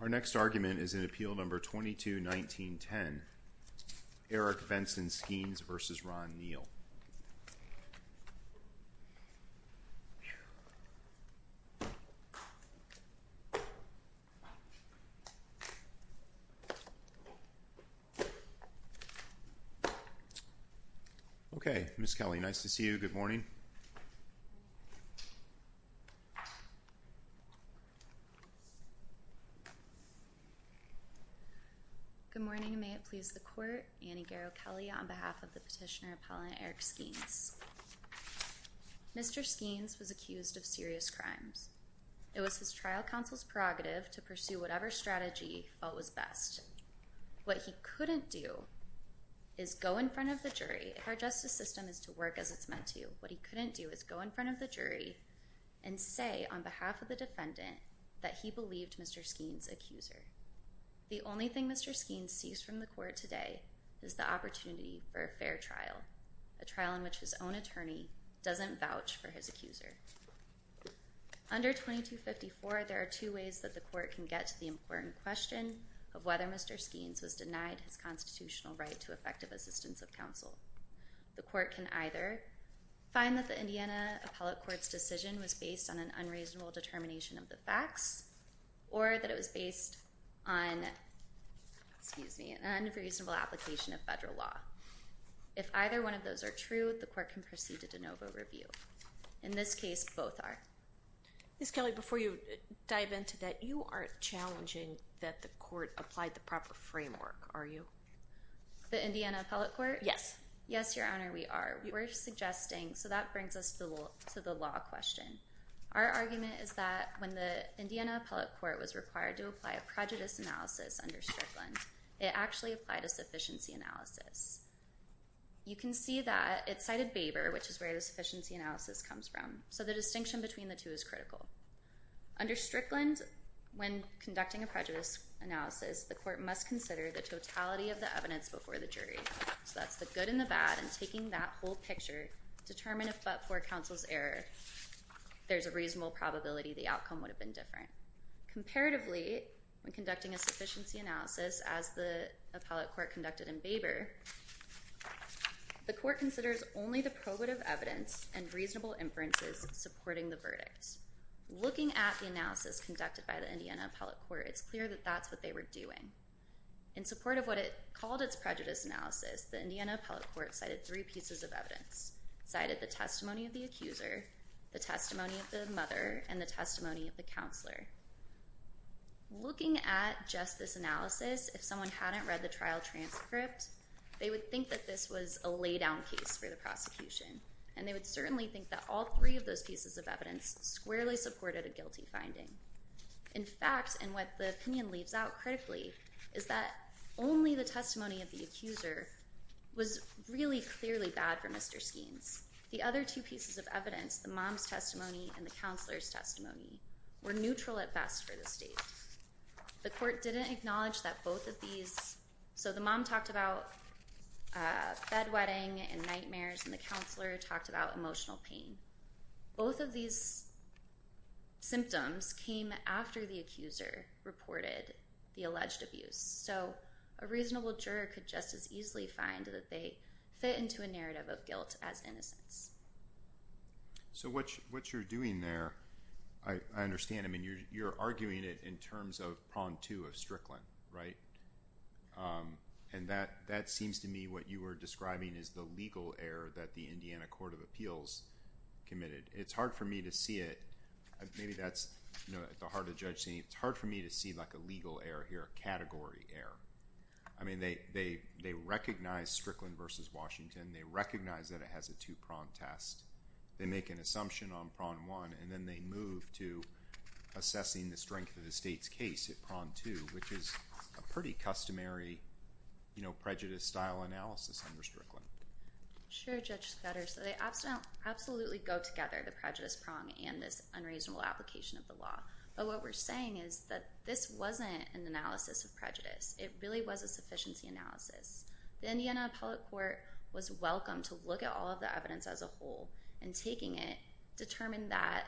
Our next argument is in Appeal No. 22-19-10, Eric Benson Skeens v. Ron Neal. Okay, Ms. Kelly, nice to see you. Good morning. Good morning. May it please the Court, Annie Garrow Kelly, on behalf of the Petitioner-Appellant Eric Skeens. Mr. Skeens was accused of serious crimes. It was his trial counsel's prerogative to pursue whatever strategy he felt was best. What he couldn't do is go in front of the jury. Our justice system is to work as it's meant to. What he couldn't do is go in front of the jury and say on behalf of the defendant that he believed Mr. Skeens' accuser. The only thing Mr. Skeens sees from the Court today is the opportunity for a fair trial, a trial in which his own attorney doesn't vouch for his accuser. Under 2254, there are two ways that the Court can get to the important question of whether Mr. Skeens was denied his constitutional right to effective assistance of counsel. The Court can either find that the Indiana Appellate Court's decision was based on an unreasonable determination of the facts, or that it was based on an unreasonable application of federal law. If either one of those are true, the Court can proceed to de novo review. In this case, both are. Ms. Kelly, before you dive into that, you aren't challenging that the Court applied the proper framework, are you? The Indiana Appellate Court? Yes. Yes, Your Honor, we are. We're suggesting, so that brings us to the law question. Our argument is that when the Indiana Appellate Court was required to apply a prejudice analysis under Strickland, it actually applied a sufficiency analysis. You can see that it cited Baber, which is where the sufficiency analysis comes from, so the distinction between the two is critical. Under Strickland, when conducting a prejudice analysis, the Court must consider the totality of the evidence before the jury. So that's the good and the bad, and taking that whole picture, determine if but for counsel's error, there's a reasonable probability the outcome would have been different. Comparatively, when conducting a sufficiency analysis, as the Appellate Court conducted in Baber, the Court considers only the probative evidence and reasonable inferences supporting the verdict. Looking at the analysis conducted by the Indiana Appellate Court, it's clear that that's what they were doing. In support of what it called its prejudice analysis, the Indiana Appellate Court cited three pieces of evidence. It cited the testimony of the accuser, the testimony of the mother, and the testimony of the counselor. Looking at just this analysis, if someone hadn't read the trial transcript, they would think that this was a laydown case for the prosecution, and they would certainly think that all three of those pieces of evidence squarely supported a guilty finding. In fact, and what the opinion leaves out critically, is that only the testimony of the accuser was really clearly bad for Mr. Skeens. The other two pieces of evidence, the mom's testimony and the counselor's testimony, were neutral at best for the state. The Court didn't acknowledge that both of these... So the mom talked about bedwetting and nightmares, and the counselor talked about emotional pain. Both of these symptoms came after the accuser reported the alleged abuse, so a reasonable juror could just as easily find that they fit into a narrative of guilt as innocence. So what you're doing there, I understand. I mean, you're arguing it in terms of prong two of Strickland, right? And that seems to me what you were describing as the legal error that the Indiana Court of Appeals committed. It's hard for me to see it. Maybe that's at the heart of the judge scene. It's hard for me to see a legal error here, a category error. I mean, they recognize Strickland v. Washington. They recognize that it has a two-prong test. They make an assumption on prong one, and then they move to assessing the strength of the state's case at prong two, which is a pretty customary prejudice-style analysis under Strickland. Sure, Judge Scudder. So they absolutely go together, the prejudice prong and this unreasonable application of the law. But what we're saying is that this wasn't an analysis of prejudice. It really was a sufficiency analysis. The Indiana Appellate Court was welcome to look at all of the evidence as a whole and taking it, determine that.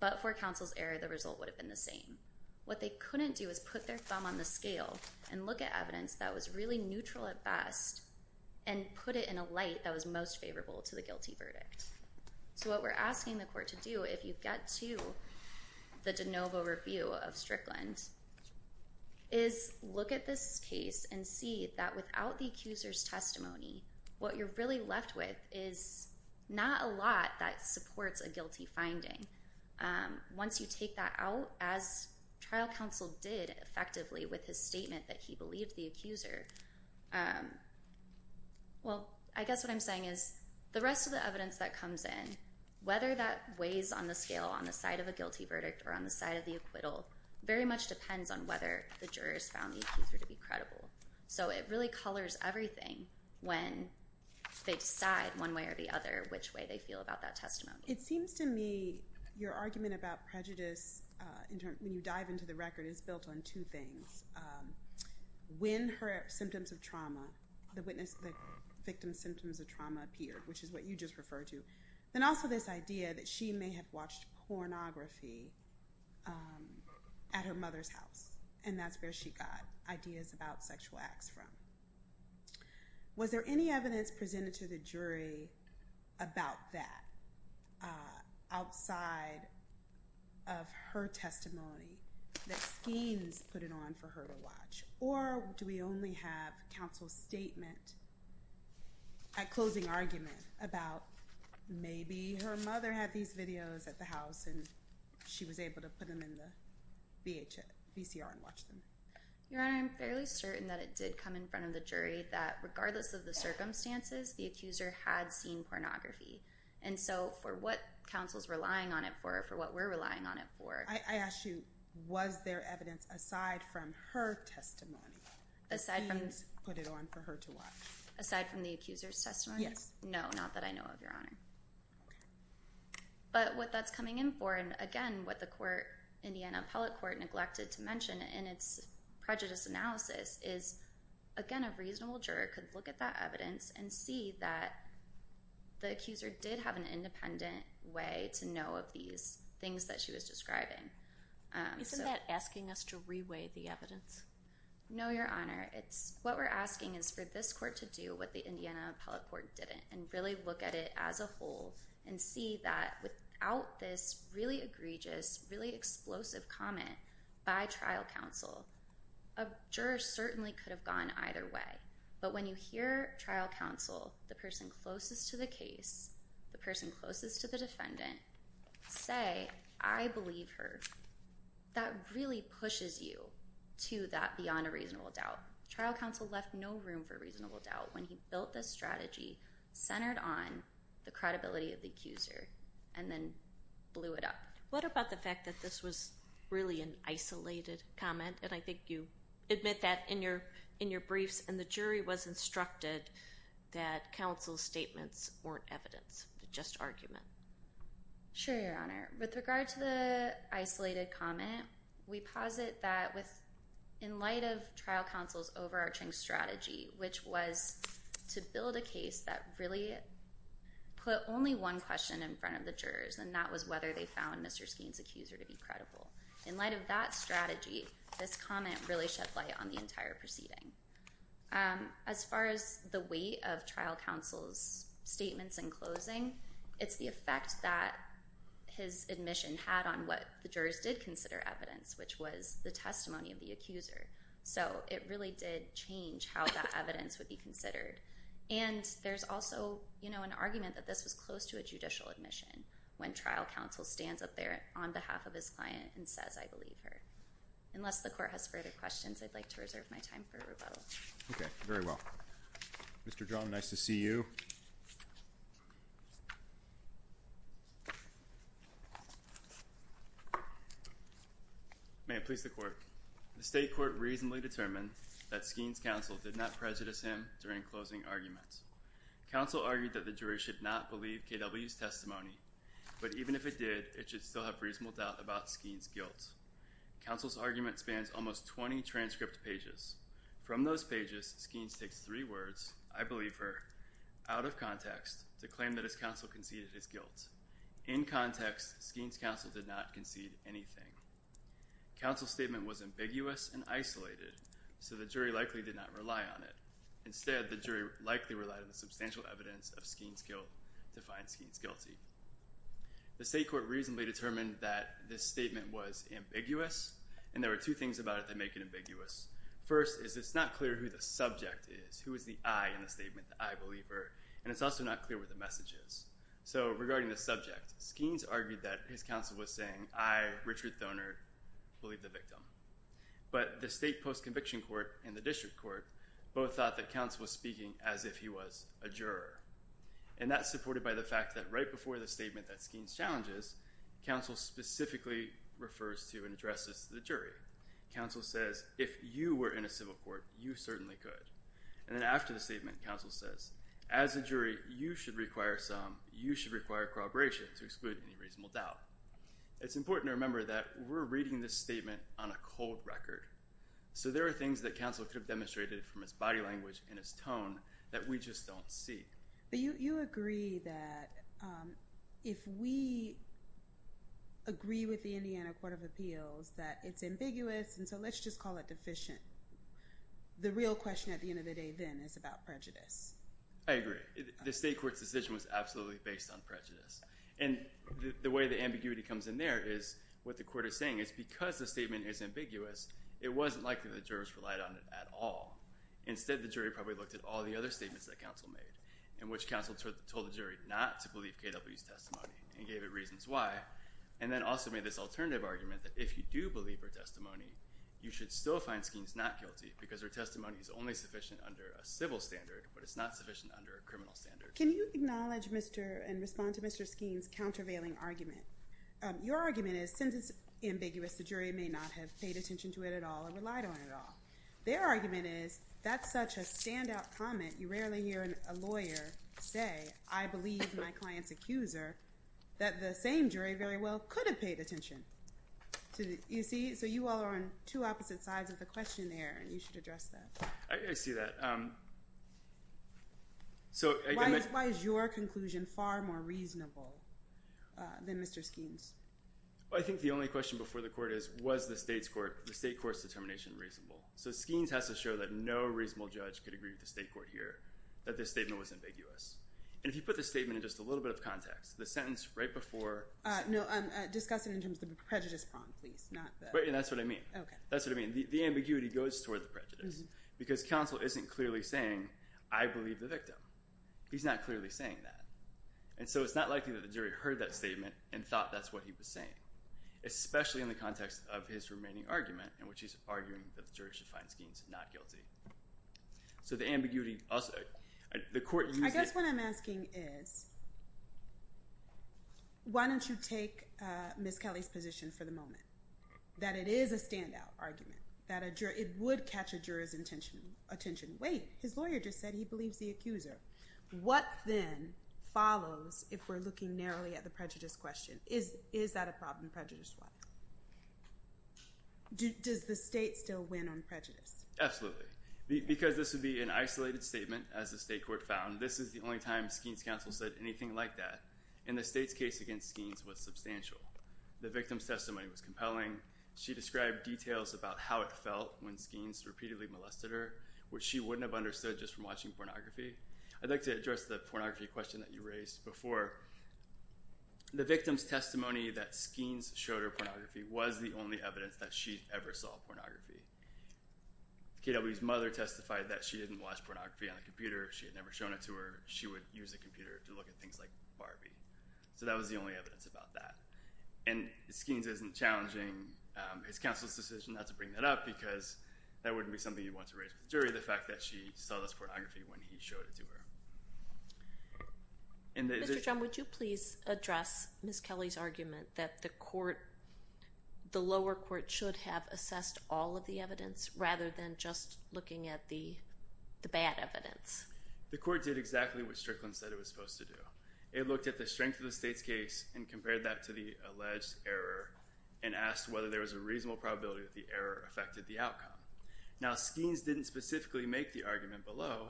But for counsel's error, the result would have been the same. What they couldn't do is put their thumb on the scale and look at evidence that was really neutral at best and put it in a light that was most favorable to the guilty verdict. So what we're asking the court to do, if you get to the de novo review of Strickland, is look at this case and see that without the accuser's testimony, what you're really left with is not a lot that supports a guilty finding. Once you take that out, as trial counsel did effectively with his statement that he believed the accuser, well, I guess what I'm saying is the rest of the evidence that comes in, whether that weighs on the scale on the side of a guilty verdict or on the side of the acquittal, very much depends on whether the jurors found the accuser to be credible. So it really colors everything when they decide one way or the other which way they feel about that testimony. It seems to me your argument about prejudice, when you dive into the record, is built on two things. When her symptoms of trauma, the victim's symptoms of trauma appeared, which is what you just referred to, then also this idea that she may have watched pornography at her mother's house, and that's where she got ideas about sexual acts from. Was there any evidence presented to the jury about that, outside of her testimony, that schemes put it on for her to watch? Or do we only have counsel's statement at closing argument about maybe her mother had these videos at the house and she was able to put them in the VCR and watch them? Your Honor, I'm fairly certain that it did come in front of the jury that regardless of the circumstances, the accuser had seen pornography. And so for what counsel's relying on it for, for what we're relying on it for— I ask you, was there evidence aside from her testimony that schemes put it on for her to watch? Aside from the accuser's testimony? Yes. No, not that I know of, Your Honor. But what that's coming in for, and again, what the Indiana Appellate Court neglected to mention, in its prejudice analysis, is, again, a reasonable juror could look at that evidence and see that the accuser did have an independent way to know of these things that she was describing. Isn't that asking us to re-weigh the evidence? No, Your Honor. What we're asking is for this court to do what the Indiana Appellate Court didn't, and really look at it as a whole and see that without this really egregious, really explosive comment by trial counsel, a juror certainly could have gone either way. But when you hear trial counsel, the person closest to the case, the person closest to the defendant, say, I believe her, that really pushes you to that beyond a reasonable doubt. Trial counsel left no room for reasonable doubt when he built this strategy centered on the credibility of the accuser and then blew it up. What about the fact that this was really an isolated comment, and I think you admit that in your briefs, and the jury was instructed that counsel's statements weren't evidence, just argument? Sure, Your Honor. With regard to the isolated comment, we posit that in light of trial counsel's overarching strategy, which was to build a case that really put only one question in front of the jurors, and that was whether they found Mr. Skeen's accuser to be credible. In light of that strategy, this comment really shed light on the entire proceeding. As far as the weight of trial counsel's statements in closing, it's the effect that his admission had on what the jurors did consider evidence, which was the testimony of the accuser. So it really did change how that evidence would be considered. And there's also an argument that this was close to a judicial admission when trial counsel stands up there on behalf of his client and says, I believe her. Unless the Court has further questions, I'd like to reserve my time for rebuttal. Okay, very well. Mr. Drum, nice to see you. May it please the Court. The State Court reasonably determined that Skeen's counsel did not prejudice him during closing arguments. Counsel argued that the jury should not believe KW's testimony, but even if it did, it should still have reasonable doubt about Skeen's guilt. Counsel's argument spans almost 20 transcript pages. From those pages, Skeen's takes three words, I believe her, out of context, to claim that his counsel conceded his guilt. In context, Skeen's counsel did not concede anything. Counsel's statement was ambiguous and isolated, so the jury likely did not rely on it. Instead, the jury likely relied on the substantial evidence of Skeen's guilt to find Skeen's guilty. The State Court reasonably determined that this statement was ambiguous, and there were two things about it that make it ambiguous. First is it's not clear who the subject is, who is the I in the statement, the I believe her, and it's also not clear what the message is. So regarding the subject, Skeen's argued that his counsel was saying, I, Richard Thoner, believe the victim. But the state post-conviction court and the district court both thought that counsel was speaking as if he was a juror. And that's supported by the fact that right before the statement that Skeen's challenges, counsel specifically refers to and addresses the jury. Counsel says, if you were in a civil court, you certainly could. And then after the statement, counsel says, as a jury, you should require some, you should require corroboration to exclude any reasonable doubt. It's important to remember that we're reading this statement on a cold record. So there are things that counsel could have demonstrated from his body language and his tone that we just don't see. But you agree that if we agree with the Indiana Court of Appeals that it's ambiguous, and so let's just call it deficient. The real question at the end of the day then is about prejudice. I agree. The state court's decision was absolutely based on prejudice. And the way the ambiguity comes in there is what the court is saying is because the statement is ambiguous, it wasn't likely that the jurors relied on it at all. Instead, the jury probably looked at all the other statements that counsel made in which counsel told the jury not to believe KW's testimony and gave it reasons why and then also made this alternative argument that if you do believe her testimony, you should still find Skeen's not guilty because her testimony is only sufficient under a civil standard, but it's not sufficient under a criminal standard. Can you acknowledge and respond to Mr. Skeen's countervailing argument? Your argument is since it's ambiguous, the jury may not have paid attention to it at all or relied on it at all. Their argument is that's such a standout comment, you rarely hear a lawyer say, I believe my client's accuser, that the same jury very well could have paid attention. You see? So you all are on two opposite sides of the question there and you should address that. I see that. Why is your conclusion far more reasonable than Mr. Skeen's? I think the only question before the court is was the state court's determination reasonable? So Skeen's has to show that no reasonable judge could agree with the state court here that this statement was ambiguous. And if you put the statement in just a little bit of context, the sentence right before No, discuss it in terms of the prejudice prong, please. And that's what I mean. That's what I mean. The ambiguity goes toward the prejudice because counsel isn't clearly saying, I believe the victim. He's not clearly saying that. And so it's not likely that the jury heard that statement and thought that's what he was saying, especially in the context of his remaining argument in which he's arguing that the jury should find Skeen's not guilty. I guess what I'm asking is why don't you take Ms. Kelly's position for the moment, that it is a standout argument, that it would catch a juror's attention. Wait, his lawyer just said he believes the accuser. What then follows if we're looking narrowly at the prejudice question? Is that a problem prejudice-wise? Does the state still win on prejudice? Absolutely. Because this would be an isolated statement, as the state court found, this is the only time Skeen's counsel said anything like that. And the state's case against Skeen's was substantial. The victim's testimony was compelling. She described details about how it felt when Skeen's repeatedly molested her, which she wouldn't have understood just from watching pornography. I'd like to address the pornography question that you raised before. The victim's testimony that Skeen's showed her pornography was the only evidence that she ever saw pornography. K.W.'s mother testified that she didn't watch pornography on a computer. She had never shown it to her. She would use a computer to look at things like Barbie. So that was the only evidence about that. And Skeen's isn't challenging his counsel's decision not to bring that up because that wouldn't be something you'd want to raise with the jury, the fact that she saw this pornography when he showed it to her. Mr. John, would you please address Ms. Kelly's argument that the lower court should have assessed all of the evidence rather than just looking at the bad evidence? The court did exactly what Strickland said it was supposed to do. It looked at the strength of the state's case and compared that to the alleged error and asked whether there was a reasonable probability that the error affected the outcome. Now, Skeen's didn't specifically make the argument below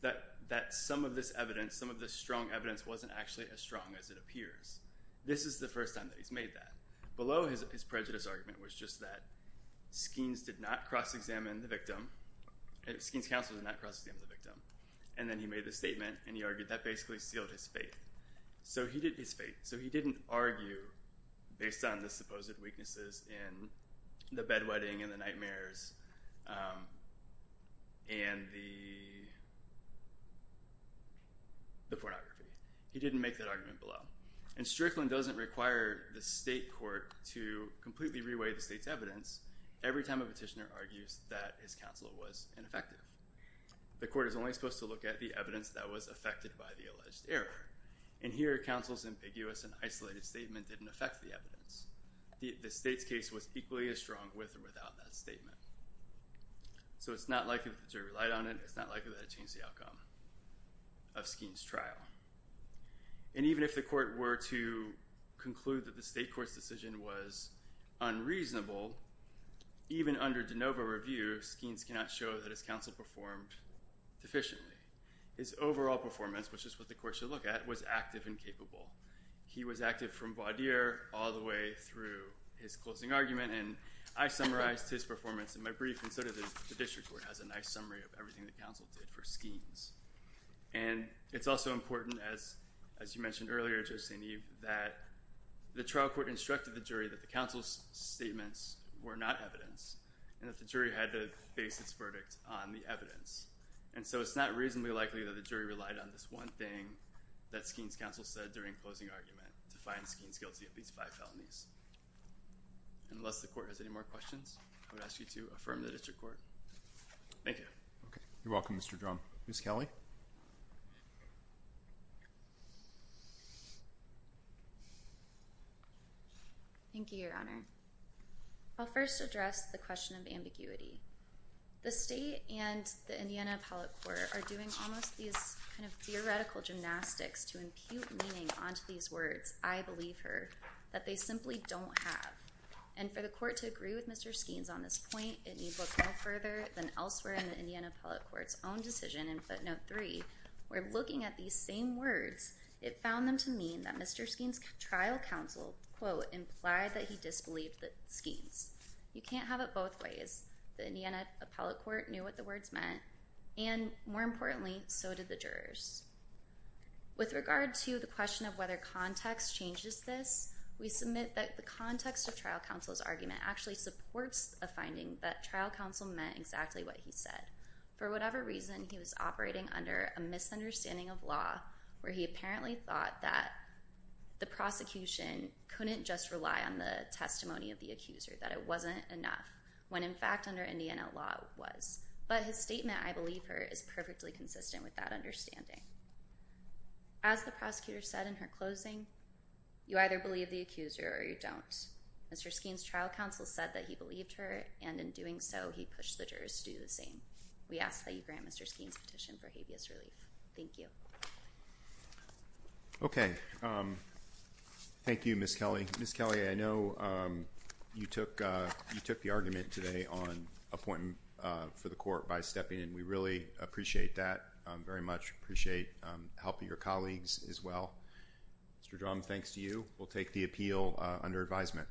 that some of this evidence, some of this strong evidence wasn't actually as strong as it appears. This is the first time that he's made that. Below his prejudice argument was just that Skeen's did not cross-examine the victim. Skeen's counsel did not cross-examine the victim. And then he made the statement and he argued that basically sealed his fate. So he did his fate. So he didn't argue based on the supposed weaknesses in the bed-wetting and the nightmares and the pornography. He didn't make that argument below. And Strickland doesn't require the state court to completely re-weigh the state's evidence every time a petitioner argues that his counsel was ineffective. The court is only supposed to look at the evidence that was affected by the alleged error. And here, counsel's ambiguous and isolated statement didn't affect the evidence. The state's case was equally as strong with or without that statement. So it's not likely that the jury relied on it. It's not likely that it changed the outcome of Skeen's trial. And even if the court were to conclude that the state court's decision was unreasonable, even under de novo review, Skeen's cannot show that his counsel performed deficiently. His overall performance, which is what the court should look at, was active and capable. He was active from voir dire all the way through his closing argument. And I summarized his performance in my brief, and so does the district court has a nice summary of everything the counsel did for Skeen's. And it's also important, as you mentioned earlier, Judge St. Eve, that the trial court instructed the jury that the counsel's statements were not evidence and that the jury had to base its verdict on the evidence. And so it's not reasonably likely that the jury relied on this one thing that Skeen's counsel said during closing argument to find Skeen's guilty of these five felonies. And unless the court has any more questions, I would ask you to affirm the district court. Thank you. Okay. You're welcome, Mr. Drum. Ms. Kelly? Thank you, Your Honor. I'll first address the question of ambiguity. The state and the Indiana appellate court are doing almost these kind of theoretical gymnastics to impute meaning onto these words, I believe her, that they simply don't have. And for the court to agree with Mr. Skeen's on this point, it needs to look no further than elsewhere in the Indiana appellate court's own decision in footnote three, where looking at these same words, it found them to mean that Mr. Skeen's trial counsel, quote, implied that he disbelieved Skeen's. You can't have it both ways. The Indiana appellate court knew what the words meant, and more importantly, so did the jurors. With regard to the question of whether context changes this, we submit that the context of trial counsel's argument actually supports a finding that trial counsel meant exactly what he said. For whatever reason, he was operating under a misunderstanding of law, where he apparently thought that the prosecution couldn't just rely on the testimony of the accuser, that it wasn't enough, when in fact under Indiana law it was. But his statement, I believe her, is perfectly consistent with that understanding. As the prosecutor said in her closing, you either believe the accuser or you don't. Mr. Skeen's trial counsel said that he believed her, and in doing so, he pushed the jurors to do the same. We ask that you grant Mr. Skeen's petition for habeas relief. Thank you. Okay. Thank you, Ms. Kelly. Ms. Kelly, I know you took the argument today on appointing for the court by stepping in. We really appreciate that, very much appreciate helping your colleagues as well. Mr. Drum, thanks to you, we'll take the appeal under advisement.